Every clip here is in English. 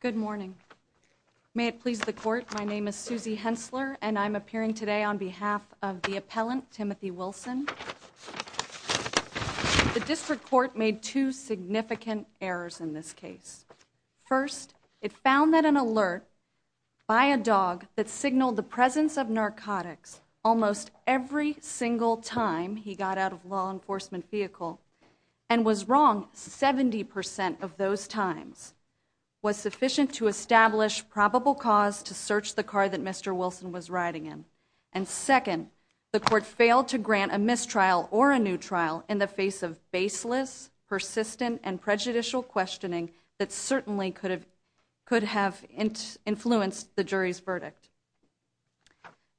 Good morning. May it please the court, my name is Susie Hensler and I'm appearing today on behalf of the appellant Timothy Wilson. The district court made two significant errors in this case. First, it found that an alert by a dog that signaled the presence of narcotics almost every single time he got out of a law enforcement vehicle and was wrong 70% of those times was sufficient to establish probable cause to search the car that Mr. Wilson was riding in. And second, the court failed to grant a mistrial or a new trial in the face of baseless, persistent, and prejudicial questioning that certainly could have influenced the jury's verdict.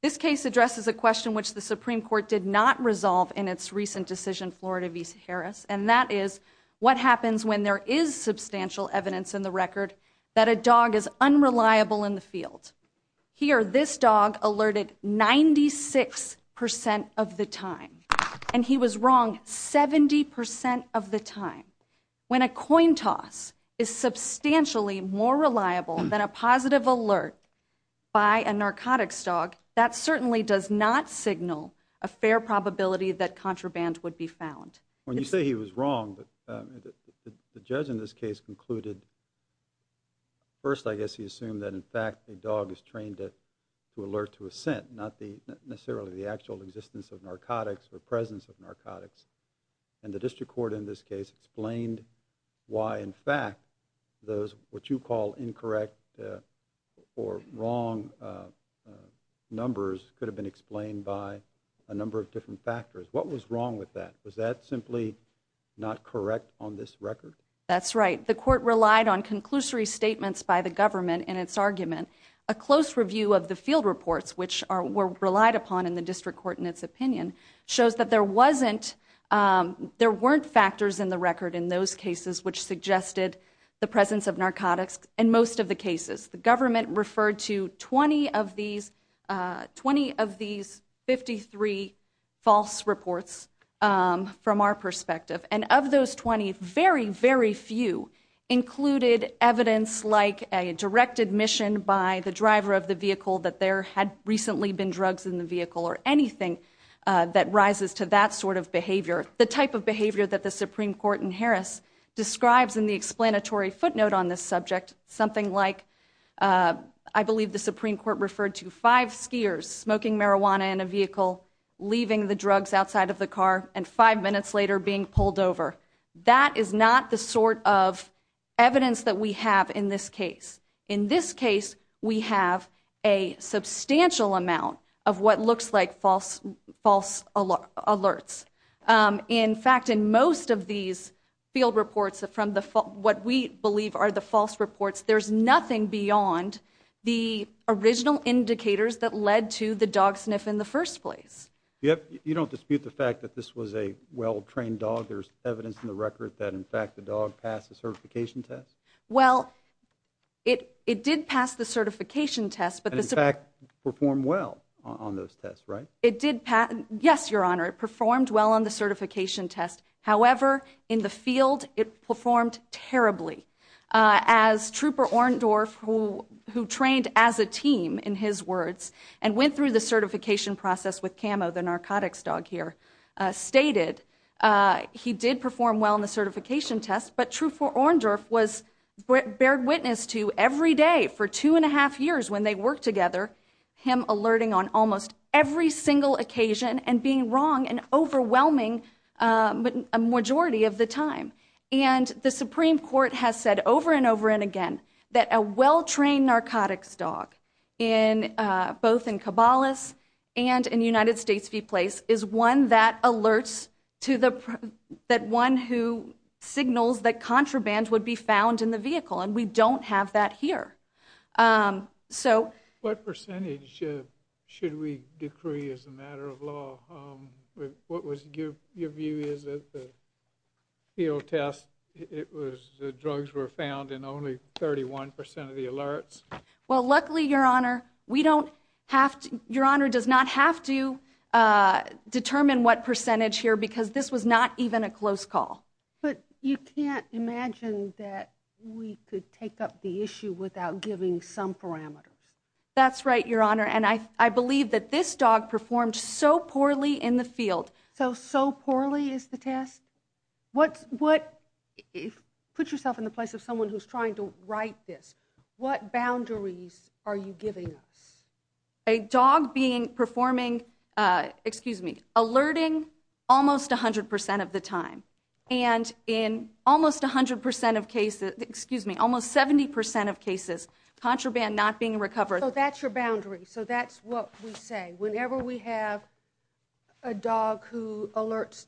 This case addresses a question which the Supreme Court did not resolve in its recent decision, Florida v. Harris, and that is what happens when there is substantial evidence in the record that a dog is unreliable in the field. Here, this dog alerted 96% of the time and he was wrong 70% of the time. When a coin toss is substantially more reliable than a positive alert by a narcotics dog, that certainly does not signal a fair probability that contraband would be found. When you say he was wrong, the judge in this case concluded, first I guess he assumed that in fact a dog is trained to alert to a scent, not necessarily the actual existence of narcotics or presence of narcotics. And the district court in this case explained why in fact those what you call incorrect or wrong numbers could have been explained by a number of different factors. What was wrong with that? Was that simply not correct on this record? That's right. The court relied on conclusory statements by the government in its argument. A close review of the field reports, which were relied upon in the district court in its opinion, shows that there wasn't, there weren't factors in the record in those cases which suggested the presence of narcotics in most of the cases. The government referred to 20 of these, 20 of these 53 false reports from our perspective. And of those 20, very, very few included evidence like a direct admission by the driver of the vehicle that there had recently been drugs in the vehicle or anything that rises to that sort of behavior. The type of behavior that the Supreme Court in Harris describes in the explanatory footnote on this subject, something like, I believe the Supreme Court referred to five skiers smoking marijuana in a vehicle, leaving the drugs outside of the car, and five minutes later being pulled over. That is not the sort of evidence that we have in this case. In this case, we have a substantial amount of what looks like false, false alerts. In fact, in most of these field reports from the, what we believe are the false reports, there's nothing beyond the original indicators that led to the dog sniff in the first place. You don't dispute the fact that this was a well-trained dog? There's evidence in the record that, in fact, the dog passed the certification test? Well, it did pass the certification test. And, in fact, performed well on those tests, right? It did pass. Yes, Your Honor, it performed well on the certification test. However, in the field, it performed terribly. As Trooper Orndorff, who trained as a team, in his words, and went through the certification process with Camo, the narcotics dog here, stated, he did perform well on the certification test. But Trooper Orndorff was, bared witness to every day for two and a half years when they worked together, him alerting on almost every single occasion and being wrong an overwhelming majority of the time. And the Supreme Court has said over and over and again that a well-trained narcotics dog, both in Cabalas and in United States v. Place, is one that alerts to the, that one who signals that contraband would be found in the vehicle. And we don't have that here. What percentage should we decree as a matter of law? What was your view is that the field test, it was the drugs were found in only 31% of the alerts? Well, luckily, Your Honor, we don't have to, Your Honor does not have to determine what percentage here because this was not even a close call. But you can't imagine that we could take up the issue without giving some parameters. That's right, Your Honor. And I, I believe that this dog performed so poorly in the field. So, so poorly is the test? What, what, if, put yourself in the place of someone who's trying to write this, what boundaries are you giving us? A dog being, performing, excuse me, alerting almost 100% of the time. And in almost 100% of cases, excuse me, almost 70% of cases, contraband not being recovered. So that's your boundary. So that's what we say. Whenever we have a dog who alerts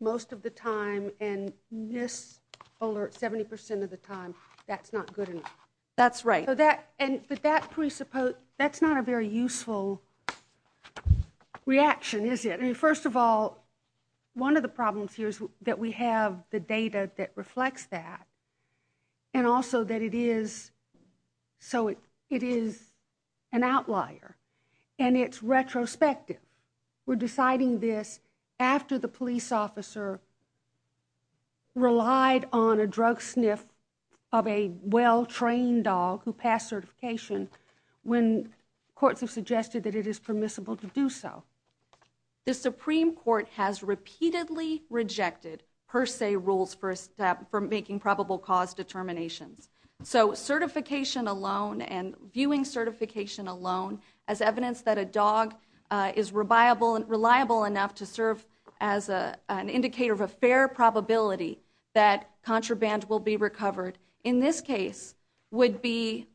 most of the time and mis-alerts 70% of the time, that's not good enough. That's right. So that, and, but that presuppose, that's not a very useful reaction, is it? I mean, first of all, one of the problems here is that we have the data that reflects that. And also that it is, so it, it is an outlier. And it's retrospective. We're deciding this after the police officer relied on a drug sniff of a well-trained dog who passed certification when courts have suggested that it is permissible to do so. The Supreme Court has repeatedly rejected per se rules for making probable cause determinations. So certification alone and viewing certification alone as evidence that a dog is reliable enough to serve as an indicator of a fair probability that contraband will be recovered, in this case would be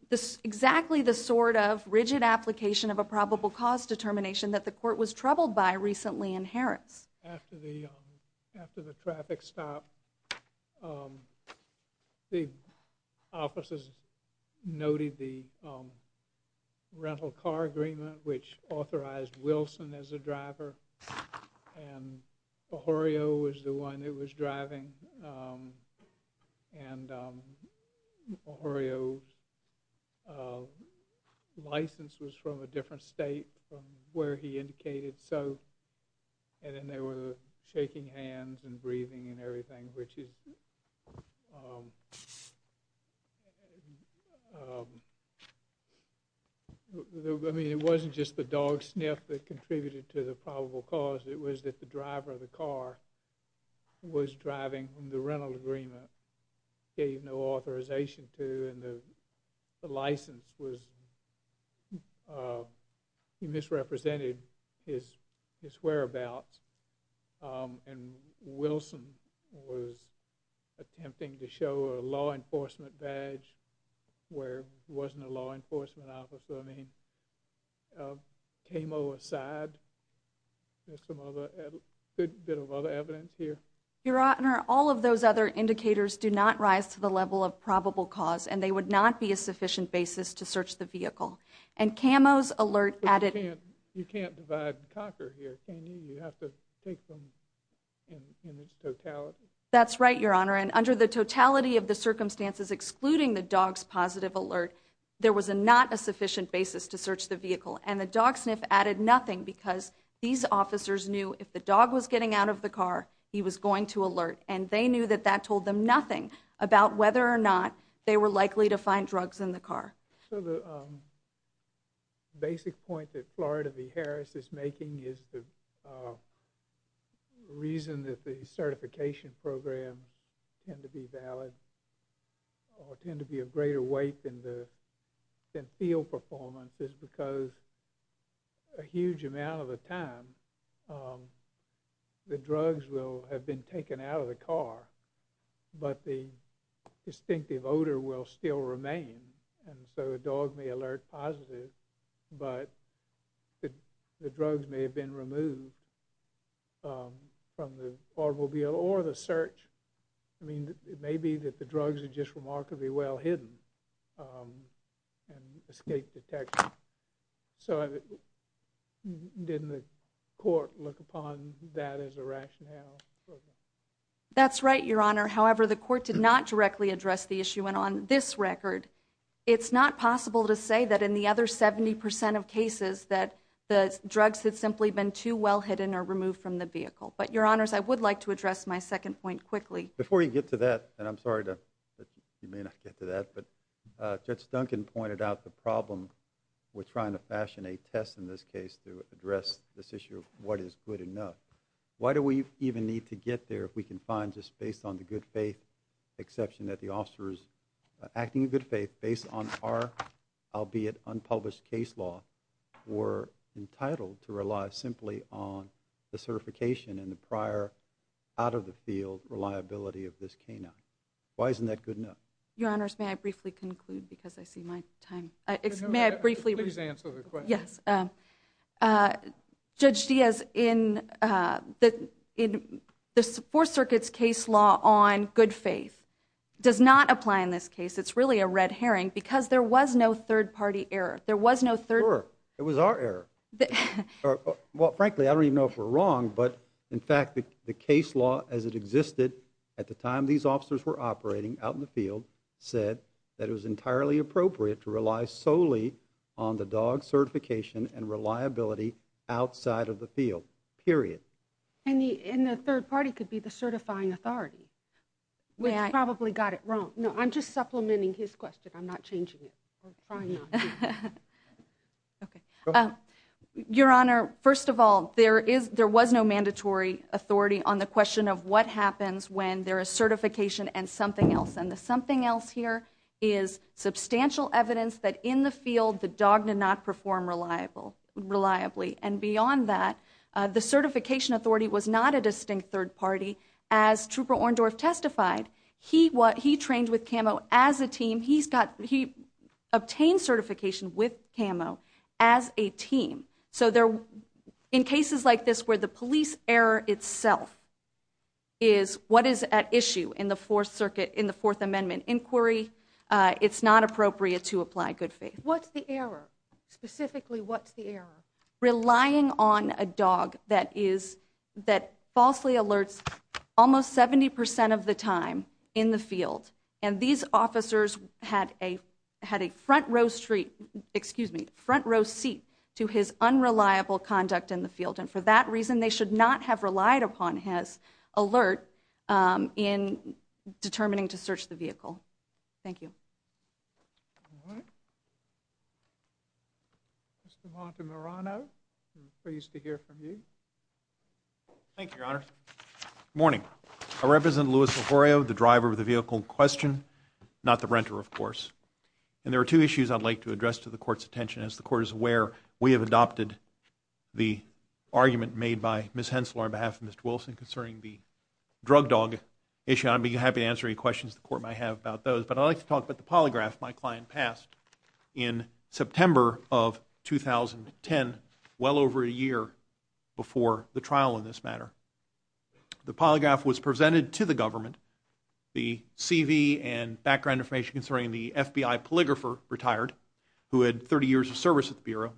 exactly the sort of rigid application of a probable cause determination that the court was troubled by recently in Harris. After the, after the traffic stop, the officers noted the rental car agreement which authorized Wilson as a driver. And O'Horio was the one that was driving. And O'Horio's license was from a different state from where he indicated. So, and then there were the shaking hands and breathing and everything which is, I mean it wasn't just the dog sniff that contributed to the probable cause, it was that the driver of the car was driving whom the rental agreement gave no authorization to and the license was, he misrepresented his whereabouts. And Wilson was attempting to show a law enforcement badge where he wasn't a law enforcement officer. I mean, camo aside, there's some other, a good bit of other evidence here. Your Honor, all of those other indicators do not rise to the level of probable cause and they would not be a sufficient basis to search the vehicle. And camo's alert added... You can't divide and conquer here, can you? You have to take them in its totality. That's right, Your Honor. And under the totality of the circumstances excluding the dog's positive alert, there was not a sufficient basis to search the vehicle. And the dog sniff added nothing because these officers knew if the dog was getting out of the car, he was going to alert and they knew that that told them nothing about whether or not they were likely to find drugs in the car. So the basic point that Florida v. Harris is making is the reason that the certification programs tend to be valid or tend to be of greater weight than field performance is because a huge amount of the time, the drugs will have been taken out of the car, but the distinctive odor will still remain. And so a dog may alert positive, but the drugs may have been removed from the automobile or the search. I mean, it may be that the drugs are just remarkably well-hidden and escape detection. So didn't the court look upon that as a rationale? That's right, Your Honor. However, the court did not directly address the issue. And on this record, it's not possible to say that in the other 70% of cases that the drugs had simply been too well-hidden or removed from the vehicle. But, Your Honors, I would like to address my second point quickly. Before you get to that, and I'm sorry that you may not get to that, but Judge Duncan pointed out the problem with trying to fashion a test in this case to address this issue of what is good enough. Why do we even need to get there if we can find just based on the good faith exception that the officers acting in good faith based on our, albeit unpublished, case law were entitled to rely simply on the certification and the prior out-of-the-field reliability of this canine? Why isn't that good enough? Your Honors, may I briefly conclude because I see my time? May I briefly? Please answer the question. Yes. Judge Diaz, the Fourth Circuit's case law on good faith does not apply in this case. It's really a red herring because there was no third-party error. There was no third-party error. Sure, it was our error. Well, frankly, I don't even know if we're wrong, but in fact the case law as it existed at the time these officers were operating out in the field said that it was entirely appropriate to rely solely on the dog certification and reliability outside of the field, period. And the third party could be the certifying authority, which probably got it wrong. No, I'm just supplementing his question. I'm not changing it. I'm trying not to. Your Honor, first of all, there was no mandatory authority on the question of what happens when there is certification and something else, and the something else here is substantial evidence that in the field the dog did not perform reliably. And beyond that, the certification authority was not a distinct third party. As Trooper Orndorff testified, he trained with CAMO as a team. He obtained certification with CAMO as a team. So in cases like this where the police error itself is what is at issue in the Fourth Amendment inquiry, it's not appropriate to apply good faith. What's the error? Specifically, what's the error? Relying on a dog that falsely alerts almost 70% of the time in the field, and these officers had a front row seat to his unreliable conduct in the field, and for that reason they should not have relied upon his alert in determining to search the vehicle. Thank you. All right. Mr. Montemarano, we're pleased to hear from you. Thank you, Your Honor. Good morning. I represent Louis Leforio, the driver of the vehicle in question, not the renter, of course. And there are two issues I'd like to address to the Court's attention. As the Court is aware, we have adopted the argument made by Ms. Hensel on behalf of Mr. Wilson concerning the drug dog issue, and I'd be happy to answer any questions the Court might have about those. But I'd like to talk about the polygraph my client passed in September of 2010, well over a year before the trial in this matter. The polygraph was presented to the government. The CV and background information concerning the FBI polygrapher retired, who had 30 years of service at the Bureau.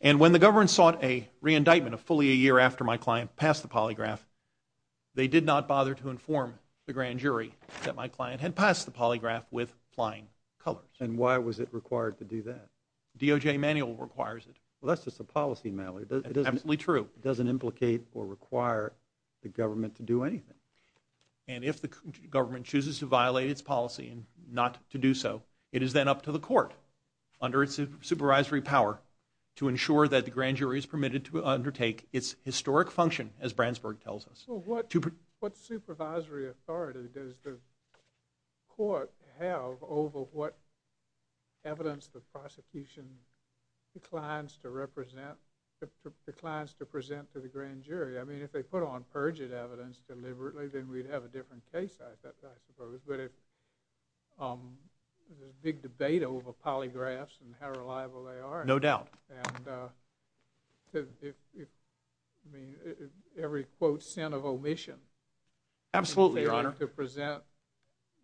And when the government sought a re-indictment of fully a year after my client passed the polygraph, they did not bother to inform the grand jury that my client had passed the polygraph with flying colors. And why was it required to do that? DOJ manual requires it. Well, that's just a policy matter. It's absolutely true. It doesn't implicate or require the government to do anything. And if the government chooses to violate its policy and not to do so, it is then up to the Court, under its supervisory power, to ensure that the grand jury is permitted to undertake its historic function, as Brandsburg tells us. Well, what supervisory authority does the Court have over what evidence the prosecution declines to represent, declines to present to the grand jury? I mean, if they put on perjured evidence deliberately, then we'd have a different case, I suppose. But it's a big debate over polygraphs and how reliable they are. No doubt. And every, quote, sin of omission. Absolutely, Your Honor. To present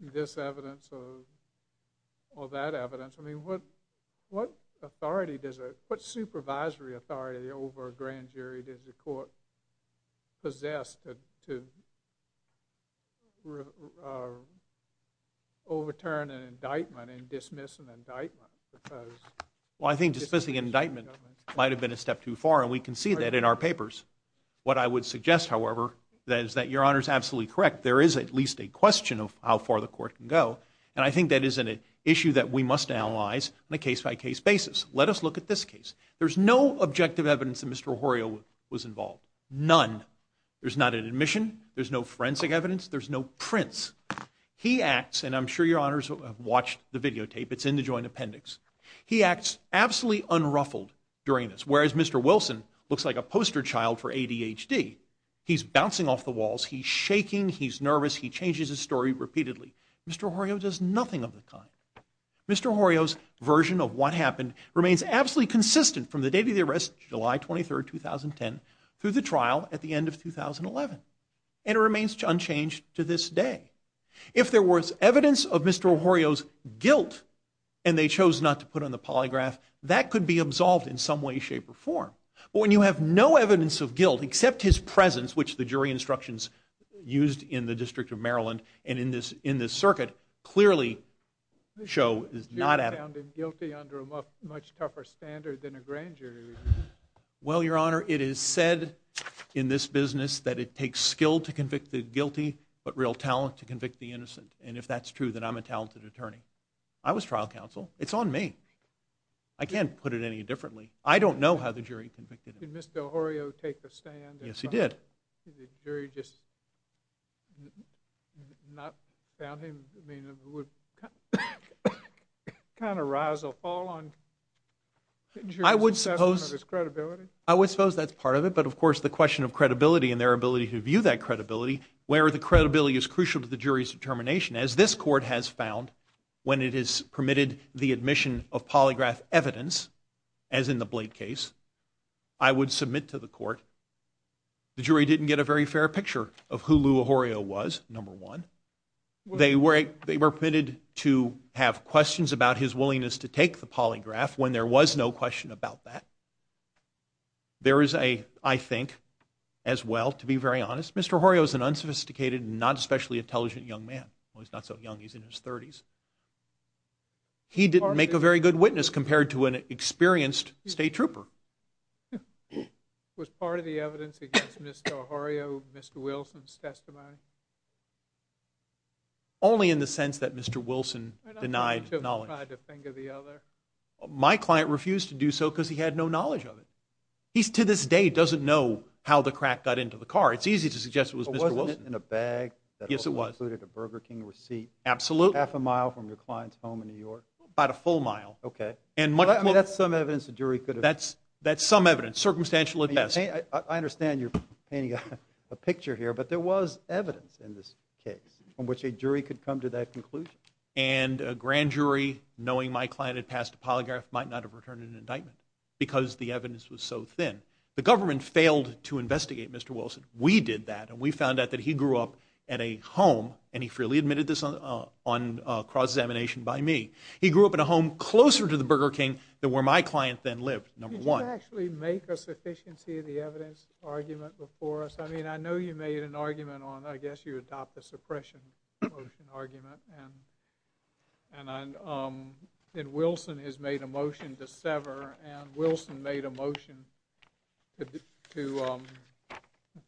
this evidence or that evidence. I mean, what supervisory authority over a grand jury does the Court possess to overturn an indictment and dismiss an indictment? Well, I think dismissing an indictment might have been a step too far. And we can see that in our papers. What I would suggest, however, is that Your Honor is absolutely correct. There is at least a question of how far the Court can go. And I think that is an issue that we must analyze on a case-by-case basis. Let us look at this case. There's no objective evidence that Mr. O'Horio was involved. None. There's not an admission. There's no forensic evidence. There's no prints. He acts, and I'm sure Your Honors have watched the videotape. It's in the joint appendix. He acts absolutely unruffled during this. Whereas Mr. Wilson looks like a poster child for ADHD. He's bouncing off the walls. He's shaking. He's nervous. He changes his story repeatedly. Mr. O'Horio does nothing of the kind. Mr. O'Horio's version of what happened remains absolutely consistent from the date of the arrest, July 23, 2010, through the trial at the end of 2011. And it remains unchanged to this day. If there was evidence of Mr. O'Horio's guilt, and they chose not to put on the polygraph, that could be absolved in some way, shape, or form. But when you have no evidence of guilt, except his presence, which the jury instructions used in the District of Maryland and in this circuit, clearly show is not evident. The jury found him guilty under a much tougher standard than a grand jury review. Well, Your Honor, it is said in this business that it takes skill to convict the guilty, but real talent to convict the innocent. And if that's true, then I'm a talented attorney. I was trial counsel. It's on me. I can't put it any differently. I don't know how the jury convicted him. Did Mr. O'Horio take the stand? Yes, he did. Did the jury just not found him? I mean, it would kind of rise or fall on the jury's assessment of his credibility. I would suppose that's part of it. But, of course, the question of credibility and their ability to view that credibility, where the credibility is crucial to the jury's determination, as this court has found when it has permitted the admission of polygraph evidence, as in the Blake case, I would submit to the court. The jury didn't get a very fair picture of who Lou O'Horio was, number one. They were permitted to have questions about his willingness to take the polygraph when there was no question about that. There is a, I think, as well, to be very honest, Mr. O'Horio is an unsophisticated, not especially intelligent young man. Well, he's not so young. He's in his 30s. He didn't make a very good witness compared to an experienced state trooper. Was part of the evidence against Mr. O'Horio Mr. Wilson's testimony? Only in the sense that Mr. Wilson denied knowledge. I'm not sure he tried to finger the other. My client refused to do so because he had no knowledge of it. He, to this day, doesn't know how the crack got into the car. It's easy to suggest it was Mr. Wilson. But wasn't it in a bag? Yes, it was. That also included a Burger King receipt? Absolutely. Half a mile from your client's home in New York? About a full mile. Okay. That's some evidence a jury could have. That's some evidence. Circumstantial at best. I understand you're painting a picture here. But there was evidence in this case from which a jury could come to that conclusion. And a grand jury, knowing my client had passed a polygraph, might not have returned an indictment because the evidence was so thin. The government failed to investigate Mr. Wilson. We did that. And we found out that he grew up in a home, and he freely admitted this on cross-examination by me. He grew up in a home closer to the Burger King than where my client then lived, number one. Did you actually make a sufficiency of the evidence argument before us? I mean, I know you made an argument on, I guess you adopt the suppression motion argument. And Wilson has made a motion to sever. And Wilson made a motion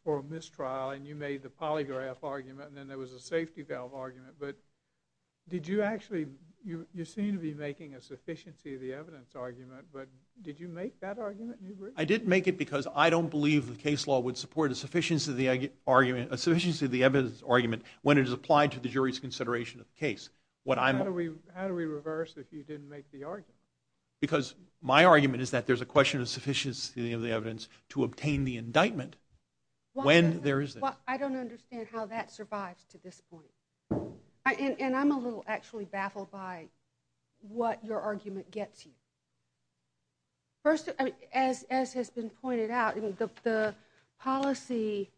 for a mistrial. And you made the polygraph argument. And then there was a safety valve argument. But did you actually, you seem to be making a sufficiency of the evidence argument. But did you make that argument? I didn't make it because I don't believe the case law would support a sufficiency of the evidence argument when it is applied to the jury's consideration of the case. How do we reverse if you didn't make the argument? Because my argument is that there's a question of sufficiency of the evidence to obtain the indictment when there is this. Well, I don't understand how that survives to this point. And I'm a little actually baffled by what your argument gets you. First, as has been pointed out, the policy,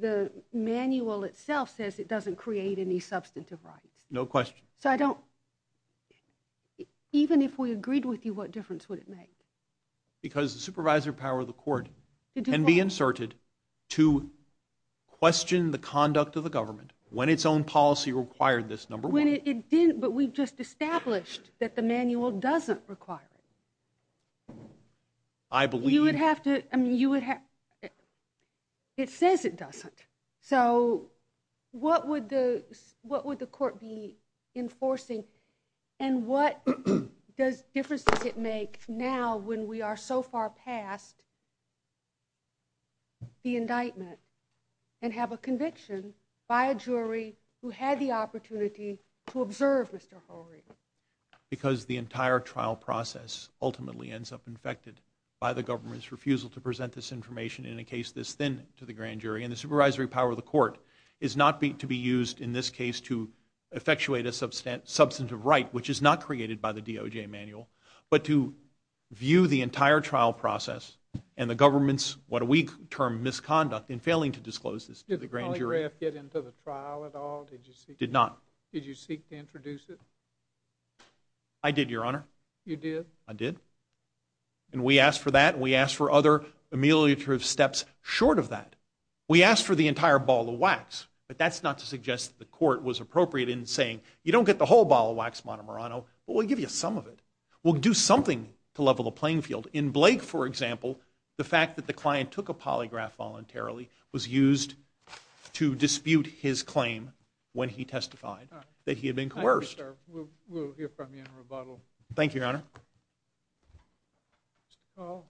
the manual itself says it doesn't create any substantive rights. No question. So I don't, even if we agreed with you, what difference would it make? Because the supervisor power of the court can be inserted to question the conduct of the government when its own policy required this number one. When it didn't, but we just established that the manual doesn't require it. I believe. You would have to, I mean, you would have, it says it doesn't. So what would the court be enforcing? And what difference does it make now when we are so far past the indictment and have a conviction by a jury who had the opportunity to observe Mr. Horry? Because the entire trial process ultimately ends up infected by the government's refusal to present this information in a case this thin to the grand jury. And the supervisory power of the court is not to be used in this case to effectuate a substantive right, which is not created by the DOJ manual, but to view the entire trial process and the government's, what we term, misconduct in failing to disclose this to the grand jury. Did the polygraph get into the trial at all? It did not. Did you seek to introduce it? I did, Your Honor. You did? I did. And we asked for that and we asked for other ameliorative steps short of that. We asked for the entire ball of wax, but that's not to suggest that the court was appropriate in saying, you don't get the whole ball of wax, Montemorano, but we'll give you some of it. We'll do something to level the playing field. In Blake, for example, the fact that the client took a polygraph voluntarily was used to dispute his claim when he testified that he had been coerced. We'll hear from you in rebuttal. Mr. Call.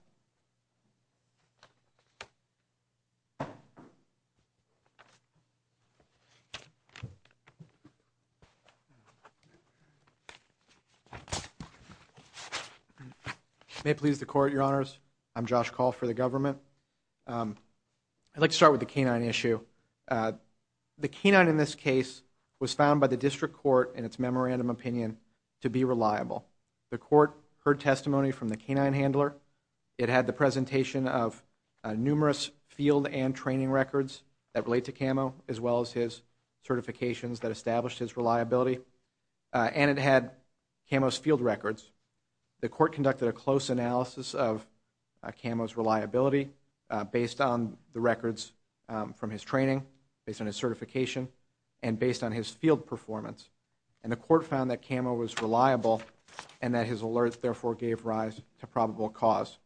May it please the court, Your Honors. I'm Josh Call for the government. I'd like to start with the canine issue. The canine in this case was found by the district court in its memorandum opinion to be reliable. The court heard testimony from the canine handler. It had the presentation of numerous field and training records that relate to Camo, as well as his certifications that established his reliability. And it had Camo's field records. The court conducted a close analysis of Camo's reliability based on the records from his training, based on his certification, and based on his field performance. And the court found that Camo was reliable and that his alerts, therefore, gave rise to probable cause.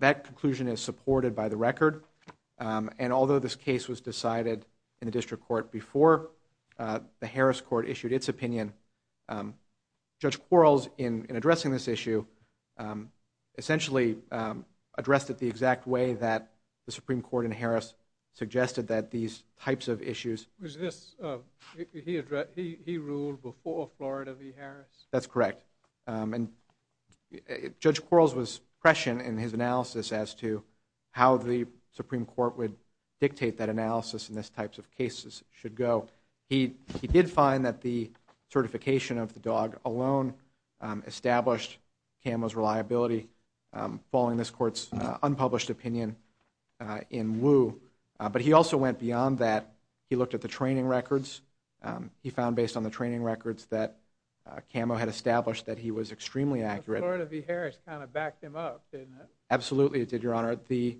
That conclusion is supported by the record. And although this case was decided in the district court before the Harris court issued its opinion, Judge Quarles, in addressing this issue, essentially addressed it the exact way that the Supreme Court in Harris suggested that these types of issues. Was this, he ruled before Florida v. Harris? That's correct. And Judge Quarles was prescient in his analysis as to how the Supreme Court would dictate that analysis in this types of cases should go. He did find that the certification of the dog alone established Camo's reliability, following this court's unpublished opinion in Wu. But he also went beyond that. He looked at the training records. He found based on the training records that Camo had established that he was extremely accurate. Florida v. Harris kind of backed him up, didn't it? Absolutely it did, Your Honor. The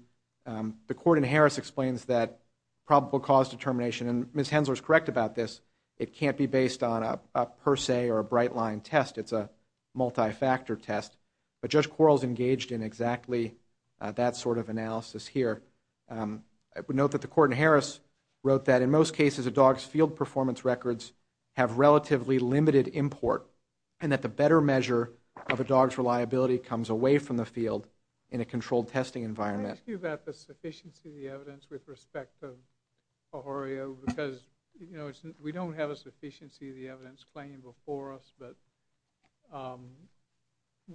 court in Harris explains that probable cause determination, and Ms. Hensler is correct about this, it can't be based on a per se or a bright line test. It's a multi-factor test. But Judge Quarles engaged in exactly that sort of analysis here. I would note that the court in Harris wrote that in most cases a dog's field performance records have relatively limited import and that the better measure of a dog's reliability comes away from the field in a controlled testing environment. Can I ask you about the sufficiency of the evidence with respect to Pajorio? Because, you know, we don't have a sufficiency of the evidence claim before us, but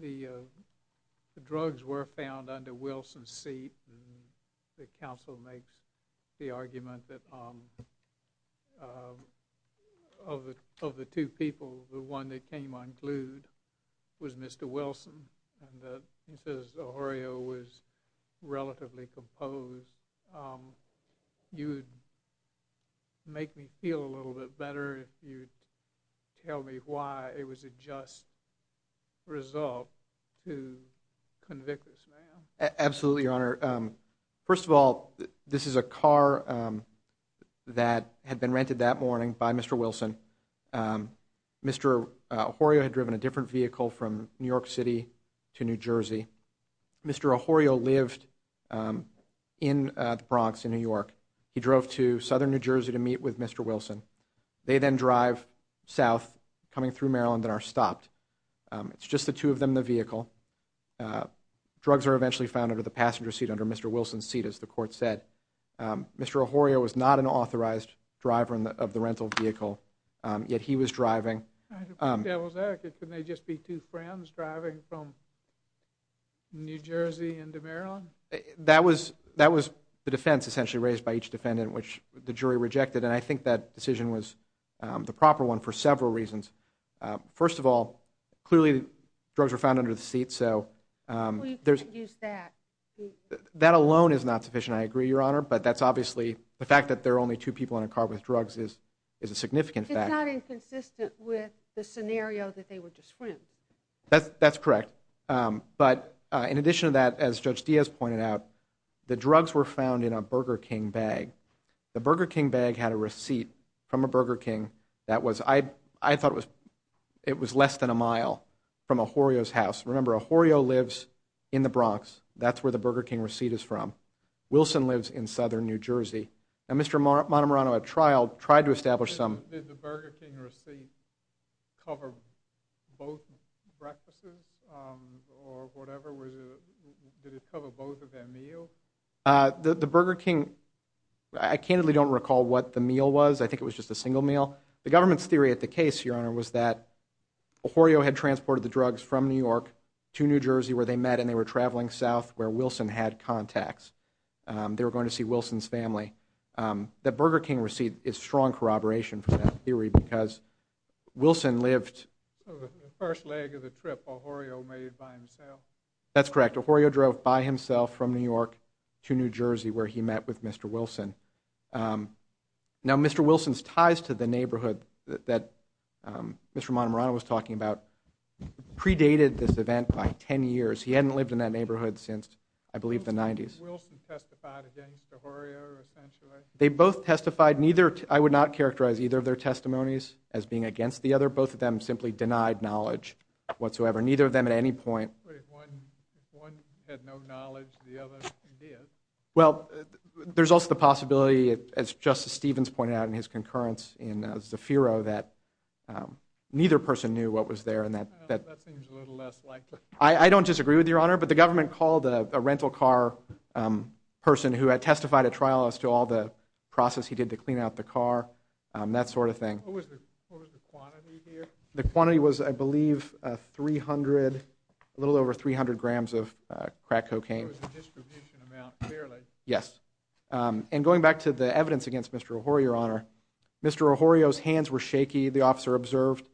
the drugs were found under Wilson's seat. The counsel makes the argument that of the two people, the one that came unglued was Mr. Wilson, and he says Pajorio was relatively composed. You would make me feel a little bit better if you'd tell me why it was a just result to convict this man. Absolutely, Your Honor. First of all, this is a car that had been rented that morning by Mr. Wilson. Mr. Ahorio had driven a different vehicle from New York City to New Jersey. Mr. Ahorio lived in the Bronx in New York. He drove to southern New Jersey to meet with Mr. Wilson. They then drive south coming through Maryland and are stopped. It's just the two of them in the vehicle. Drugs are eventually found under the passenger seat, under Mr. Wilson's seat, as the court said. Mr. Ahorio was not an authorized driver of the rental vehicle, yet he was driving. I'd be devil's advocate. Couldn't they just be two friends driving from New Jersey into Maryland? That was the defense essentially raised by each defendant, which the jury rejected, and I think that decision was the proper one for several reasons. First of all, clearly drugs were found under the seat, so there's... We can't use that. That alone is not sufficient, I agree, Your Honor, but that's obviously the fact that there are only two people in a car with drugs is a significant fact. It's not inconsistent with the scenario that they were just friends. That's correct, but in addition to that, as Judge Diaz pointed out, the drugs were found in a Burger King bag. The Burger King bag had a receipt from a Burger King that was... I thought it was less than a mile from Ahorio's house. Remember, Ahorio lives in the Bronx. That's where the Burger King receipt is from. Wilson lives in southern New Jersey. Now, Mr. Montemarano at trial tried to establish some... Did the Burger King receipt cover both breakfasts or whatever? Did it cover both of their meals? The Burger King... I candidly don't recall what the meal was. I think it was just a single meal. The government's theory at the case, Your Honor, was that Ahorio had transported the drugs from New York to New Jersey where they met, and they were traveling south where Wilson had contacts. They were going to see Wilson's family. The Burger King receipt is strong corroboration from that theory because Wilson lived... The first leg of the trip Ahorio made by himself. That's correct. Ahorio drove by himself from New York to New Jersey where he met with Mr. Wilson. Now, Mr. Wilson's ties to the neighborhood that Mr. Montemarano was talking about predated this event by 10 years. He hadn't lived in that neighborhood since, I believe, the 90s. Wilson testified against Ahorio, essentially? They both testified. I would not characterize either of their testimonies as being against the other. Both of them simply denied knowledge whatsoever. Neither of them at any point... But if one had no knowledge, the other did. Well, there's also the possibility, as Justice Stevens pointed out in his concurrence in Zafiro, that neither person knew what was there. That seems a little less likely. I don't disagree with you, Your Honor, but the government called a rental car person who had testified at trial as to all the process he did to clean out the car, that sort of thing. What was the quantity here? The quantity was, I believe, a little over 300 grams of crack cocaine. It was a distribution amount, clearly. Yes. And going back to the evidence against Mr. Ahorio, Your Honor, Mr. Ahorio's hands were shaky, the officer observed.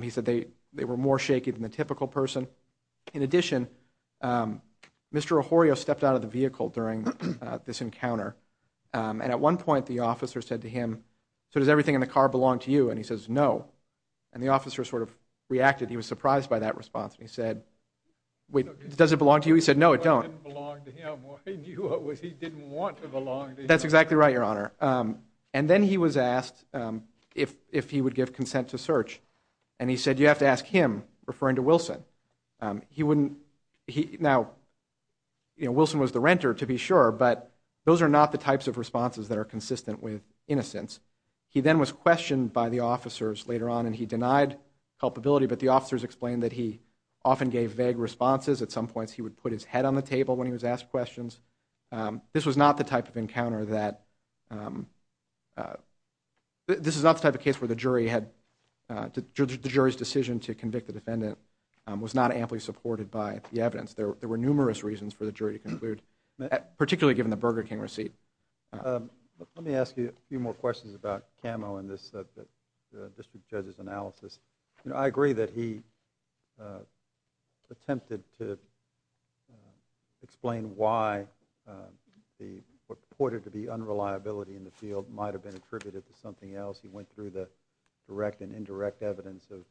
He said they were more shaky than the typical person. In addition, Mr. Ahorio stepped out of the vehicle during this encounter, and at one point the officer said to him, so does everything in the car belong to you? And he says, no. And the officer sort of reacted. He was surprised by that response. He said, wait, does it belong to you? He said, no, it don't. It didn't belong to him. He didn't want it to belong to him. That's exactly right, Your Honor. And then he was asked if he would give consent to search. And he said, you have to ask him, referring to Wilson. He wouldn't... Now, you know, Wilson was the renter, to be sure, but those are not the types of responses that are consistent with innocence. He then was questioned by the officers later on, and he denied culpability, but the officers explained that he often gave vague responses. At some points he would put his head on the table when he was asked questions. This was not the type of encounter that... This is not the type of case where the jury had... The jury's decision to convict the defendant was not amply supported by the evidence. There were numerous reasons for the jury to conclude, particularly given the Burger King receipt. Let me ask you a few more questions about Cammo and this district judge's analysis. You know, I agree that he attempted to explain why what purported to be unreliability in the field might have been attributed to something else. He went through the direct and indirect evidence of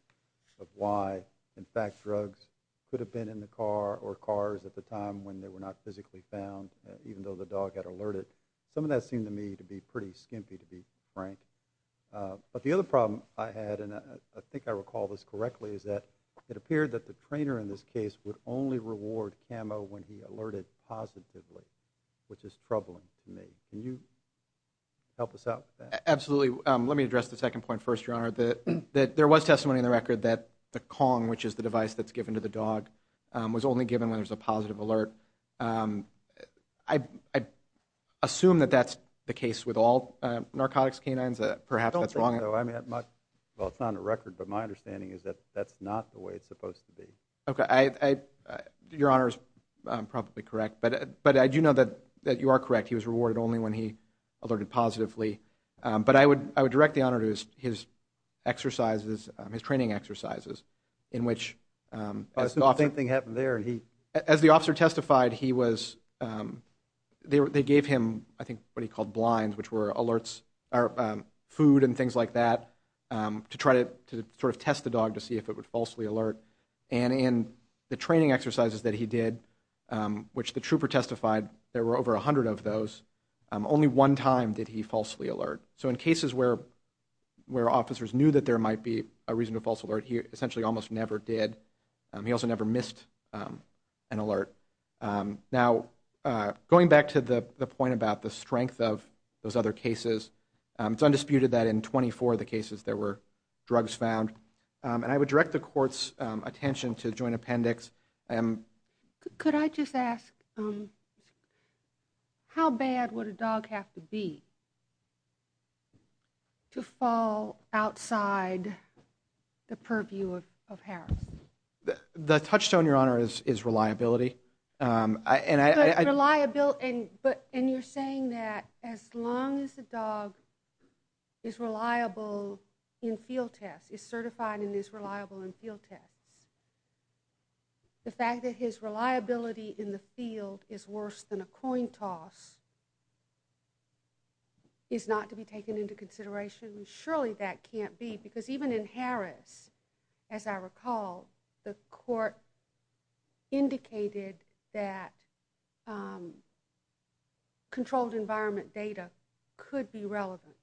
why, in fact, drugs could have been in the car or cars at the time when they were not physically found, even though the dog had alerted. Some of that seemed to me to be pretty skimpy, to be frank. But the other problem I had, and I think I recall this correctly, is that it appeared that the trainer in this case would only reward Cammo when he alerted positively, which is troubling to me. Can you help us out with that? Absolutely. Let me address the second point first, Your Honor. There was testimony in the record that the Kong, which is the device that's given to the dog, was only given when there's a positive alert. I assume that that's the case with all narcotics canines. Perhaps that's wrong. I don't think so. Well, it's not on the record, but my understanding is that that's not the way it's supposed to be. Okay, I... Your Honor is probably correct, but I do know that you are correct. He was rewarded only when he alerted positively. But I would direct the honor to his exercises, his training exercises, in which... Something happened there, and he... As the officer testified, he was... They gave him, I think, what he called blinds, which were alerts, or food and things like that, to try to sort of test the dog to see if it would falsely alert. And in the training exercises that he did, which the trooper testified, there were over 100 of those, only one time did he falsely alert. So in cases where officers knew that there might be a reason to false alert, he essentially almost never did. He also never missed an alert. Now, going back to the point about the strength of those other cases, it's undisputed that in 24 of the cases there were drugs found. And I would direct the court's attention to joint appendix. Could I just ask, how bad would a dog have to be to fall outside the purview of Harris? The touchstone, Your Honor, is reliability. But reliability... And you're saying that as long as the dog is reliable in field tests, is certified and is reliable in field tests, the fact that his reliability in the field is worse than a coin toss is not to be taken into consideration? Surely that can't be, because even in Harris, as I recall, the court indicated that controlled environment data could be relevant.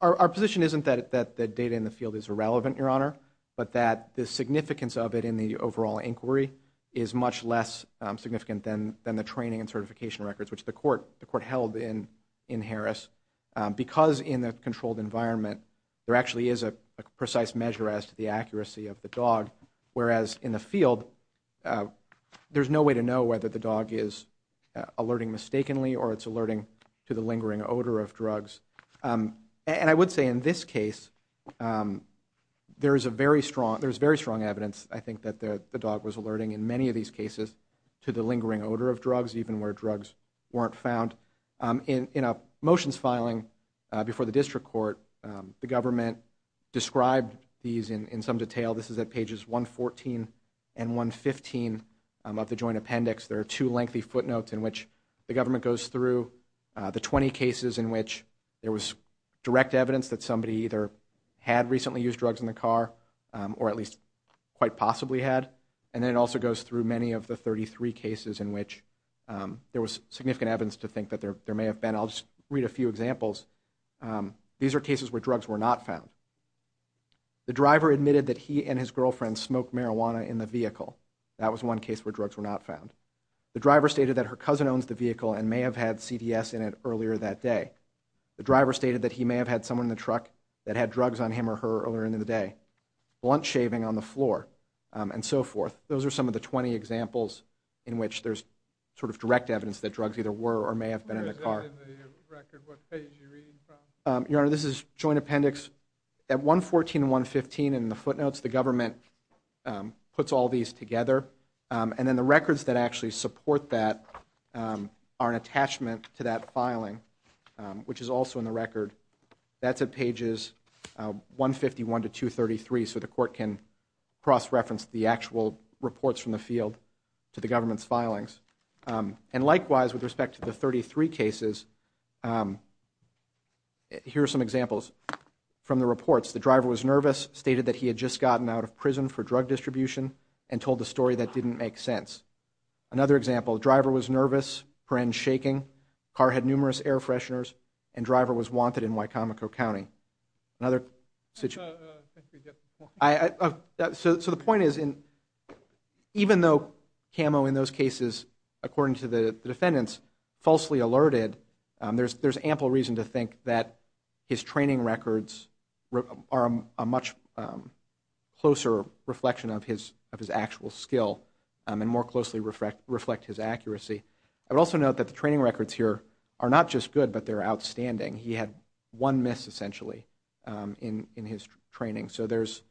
Our position isn't that the data in the field is irrelevant, Your Honor, but that the significance of it in the overall inquiry is much less significant than the training and certification records, which the court held in Harris. Because in the controlled environment there actually is a precise measure as to the accuracy of the dog, whereas in the field, there's no way to know whether the dog is alerting mistakenly or it's alerting to the lingering odor of drugs. And I would say in this case, there is a very strong... There's very strong evidence, I think, that the dog was alerting in many of these cases to the lingering odor of drugs, even where drugs weren't found. In a motions filing before the district court, the government described these in some detail. This is at pages 114 and 115 of the joint appendix. There are two lengthy footnotes in which the government goes through the 20 cases in which there was direct evidence that somebody either had recently used drugs in the car or at least quite possibly had. And then it also goes through many of the 33 cases in which there was significant evidence to think that there may have been. I'll just read a few examples. These are cases where drugs were not found. The driver admitted that he and his girlfriend smoked marijuana in the vehicle. That was one case where drugs were not found. The driver stated that her cousin owns the vehicle and may have had CDS in it earlier that day. The driver stated that he may have had someone in the truck that had drugs on him or her earlier in the day. Blunt shaving on the floor, and so forth. Those are some of the 20 examples in which there's sort of direct evidence that drugs either were or may have been in the car. Your Honor, this is joint appendix... At 114 and 115 in the footnotes, the government puts all these together. And then the records that actually support that are an attachment to that filing, which is also in the record. That's at pages 151 to 233, so the court can cross-reference the actual reports from the field to the government's filings. And likewise, with respect to the 33 cases, here are some examples from the reports. The driver was nervous, stated that he had just gotten out of prison for drug distribution, and told a story that didn't make sense. Another example, the driver was nervous, friends shaking, car had numerous air fresheners, and driver was wanted in Wicomico County. So the point is, even though Camo in those cases, according to the defendants, falsely alerted, there's ample reason to think that his training records are a much closer reflection of his actual skill and more closely reflect his accuracy. I would also note that the training records here are not just good, but they're outstanding. He had one miss, essentially, in his training. So there's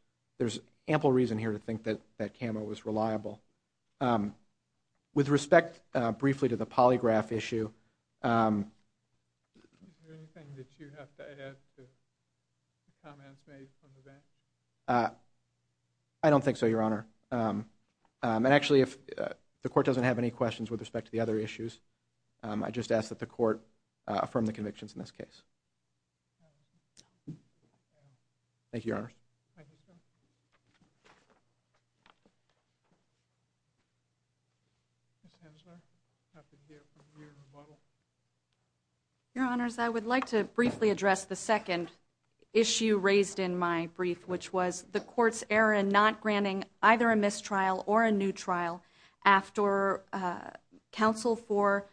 ample reason here to think that Camo was reliable. With respect, briefly, to the polygraph issue... Is there anything that you have to add to the comments made from the bench? I don't think so, Your Honor. And actually, if the court doesn't have any questions with respect to the other issues, I just ask that the court affirm the convictions in this case. Thank you, Your Honor. Ms. Hensler, you have to give your rebuttal. Your Honors, I would like to briefly address the second issue raised in my brief, which was the court's error in not granting either a mistrial or a new trial after counsel for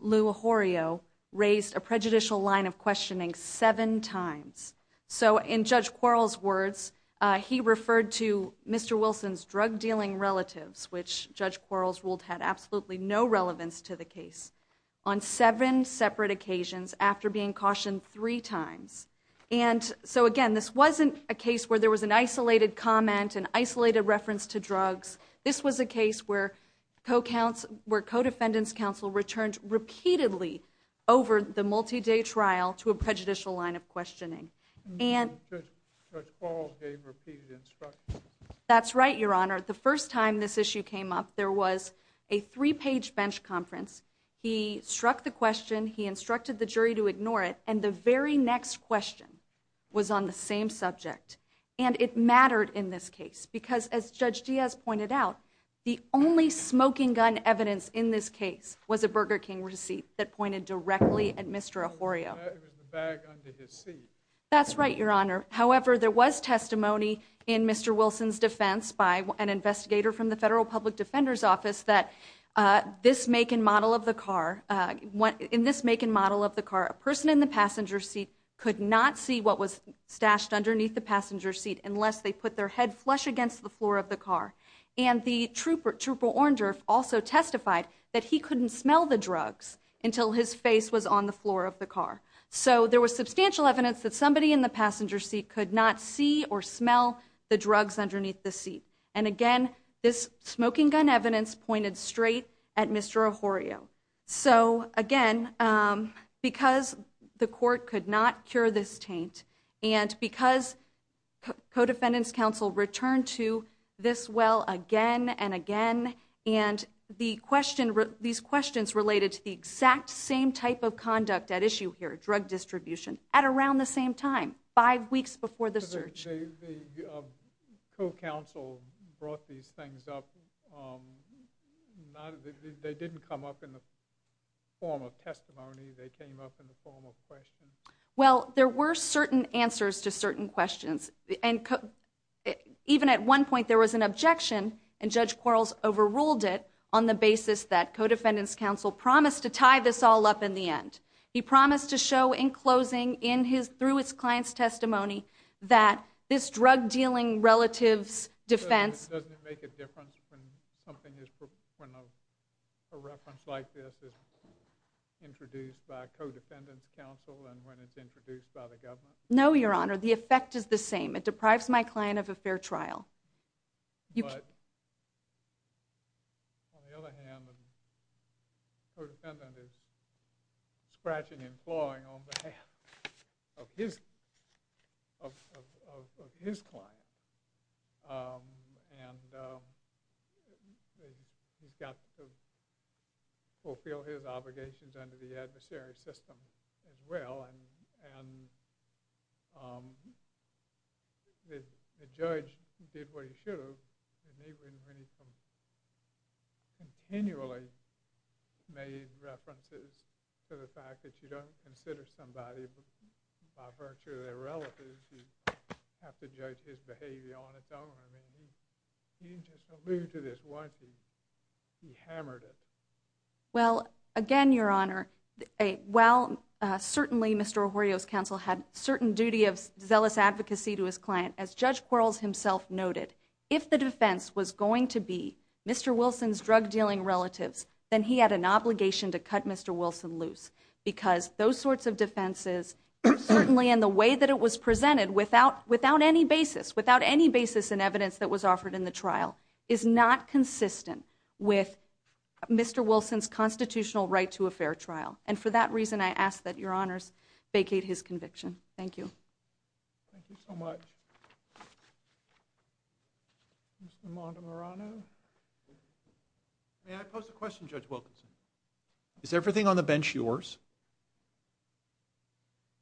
Lou Ahurio raised a prejudicial line of questioning seven times. So in Judge Quarles' words, he referred to Mr. Wilson's drug-dealing relatives, which, Judge Quarles ruled, had absolutely no relevance to the case, on seven separate occasions, after being cautioned three times. And so, again, this wasn't a case where there was an isolated comment, an isolated reference to drugs. This was a case where co-defendants' counsel returned repeatedly over the multi-day trial to a prejudicial line of questioning. And... Judge Quarles gave repeated instructions. That's right, Your Honor. The first time this issue came up, there was a three-page bench conference. He struck the question. He instructed the jury to ignore it. And the very next question was on the same subject. And it mattered in this case because, as Judge Diaz pointed out, the only smoking gun evidence in this case was a Burger King receipt that pointed directly at Mr. Ahurio. It was the bag under his seat. That's right, Your Honor. However, there was testimony in Mr. Wilson's defense by an investigator from the Federal Public Defender's Office that this make and model of the car... In this make and model of the car, a person in the passenger seat could not see what was stashed underneath the passenger seat unless they put their head flush against the floor of the car. And the trooper, Trooper Orndorff, also testified that he couldn't smell the drugs until his face was on the floor of the car. So there was substantial evidence that somebody in the passenger seat could not see or smell the drugs underneath the seat. And again, this smoking gun evidence pointed straight at Mr. Ahurio. So, again, because the court could not cure this taint and because co-defendants counsel returned to this well again and again, and the question... These questions related to the exact same type of conduct at issue here, drug distribution, at around the same time, five weeks before the search. The co-counsel brought these things up. They didn't come up in the form of testimony. They came up in the form of questions. Well, there were certain answers to certain questions. And even at one point, there was an objection, and Judge Quarles overruled it on the basis that co-defendants counsel promised to tie this all up in the end. He promised to show in closing, through his client's testimony, that this drug-dealing relative's defense... No, Your Honor, the effect is the same. It deprives my client of a fair trial. Scratching and clawing on behalf of his client. He's got to fulfill his obligations under the adversary system as well. The judge did what he should have, and even when he continually made references to the fact that you don't consider somebody by virtue of their relatives, you have to judge his behavior on its own. I mean, he didn't just allude to this once. He hammered it. Well, again, Your Honor, while certainly Mr. O'Rourke's counsel had certain duty of zealous advocacy to his client, as Judge Quarles himself noted, if the defense was going to be Mr. Wilson's drug-dealing relatives, then he had an obligation to cut Mr. Wilson loose because those sorts of defenses, certainly in the way that it was presented, without any basis, without any basis in evidence that was offered in the trial, is not consistent with Mr. Wilson's constitutional right to a fair trial. And for that reason, I ask that Your Honors vacate his conviction. Thank you. Thank you so much. Mr. Montemarano? May I pose a question, Judge Wilkinson? Is everything on the bench yours?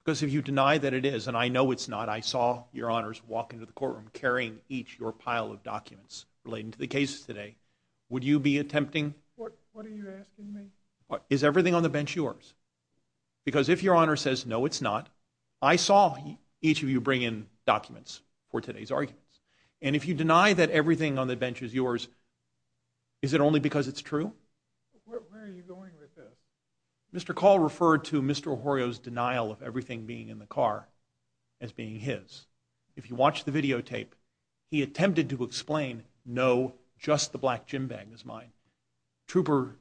Because if you deny that it is, and I know it's not, I saw Your Honors walk into the courtroom carrying each of your pile of documents relating to the cases today, would you be attempting... What are you asking me? Is everything on the bench yours? Because if Your Honor says, no, it's not, I saw each of you bring in documents for today's arguments. And if you deny that everything on the bench is yours, is it only because it's true? Where are you going with this? Mr. Call referred to Mr. O'Horio's denial of everything being in the car as being his. If you watch the videotape, he attempted to explain, no, just the black gym bag is mine. Trooper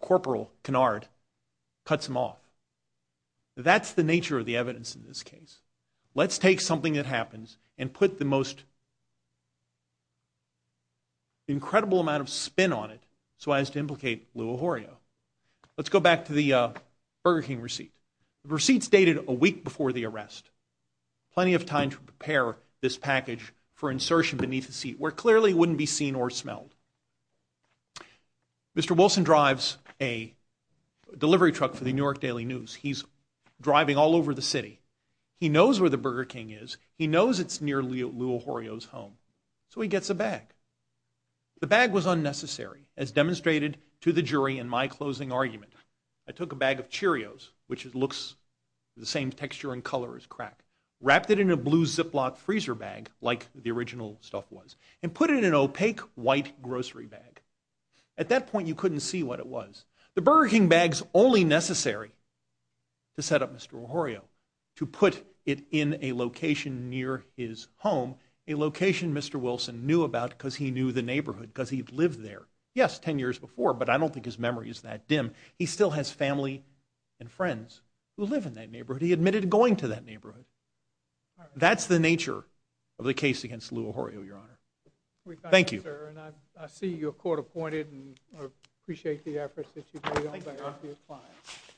Corporal Kennard cuts him off. That's the nature of the evidence in this case. Let's take something that happens and put the most... incredible amount of spin on it so as to implicate Lou O'Horio. Let's go back to the Burger King receipt. The receipt's dated a week before the arrest. Plenty of time to prepare this package for insertion beneath the seat, where clearly it wouldn't be seen or smelled. Mr. Wilson drives a delivery truck for the New York Daily News. He's driving all over the city. He knows where the Burger King is. He knows it's near Lou O'Horio's home. So he gets a bag. The bag was unnecessary, as demonstrated to the jury in my closing argument. I took a bag of Cheerios, which looks the same texture and color as crack, wrapped it in a blue Ziploc freezer bag, like the original stuff was, and put it in an opaque white grocery bag. At that point, you couldn't see what it was. The Burger King bag's only necessary to set up Mr. O'Horio, to put it in a location near his home, a location Mr. Wilson knew about because he knew the neighborhood, because he'd lived there. Yes, ten years before, but I don't think his memory is that dim. He still has family and friends who live in that neighborhood. He admitted going to that neighborhood. That's the nature of the case against Lou O'Horio, Your Honor. Thank you. And I see you're court-appointed, and I appreciate the efforts that you've made to help stop your clients.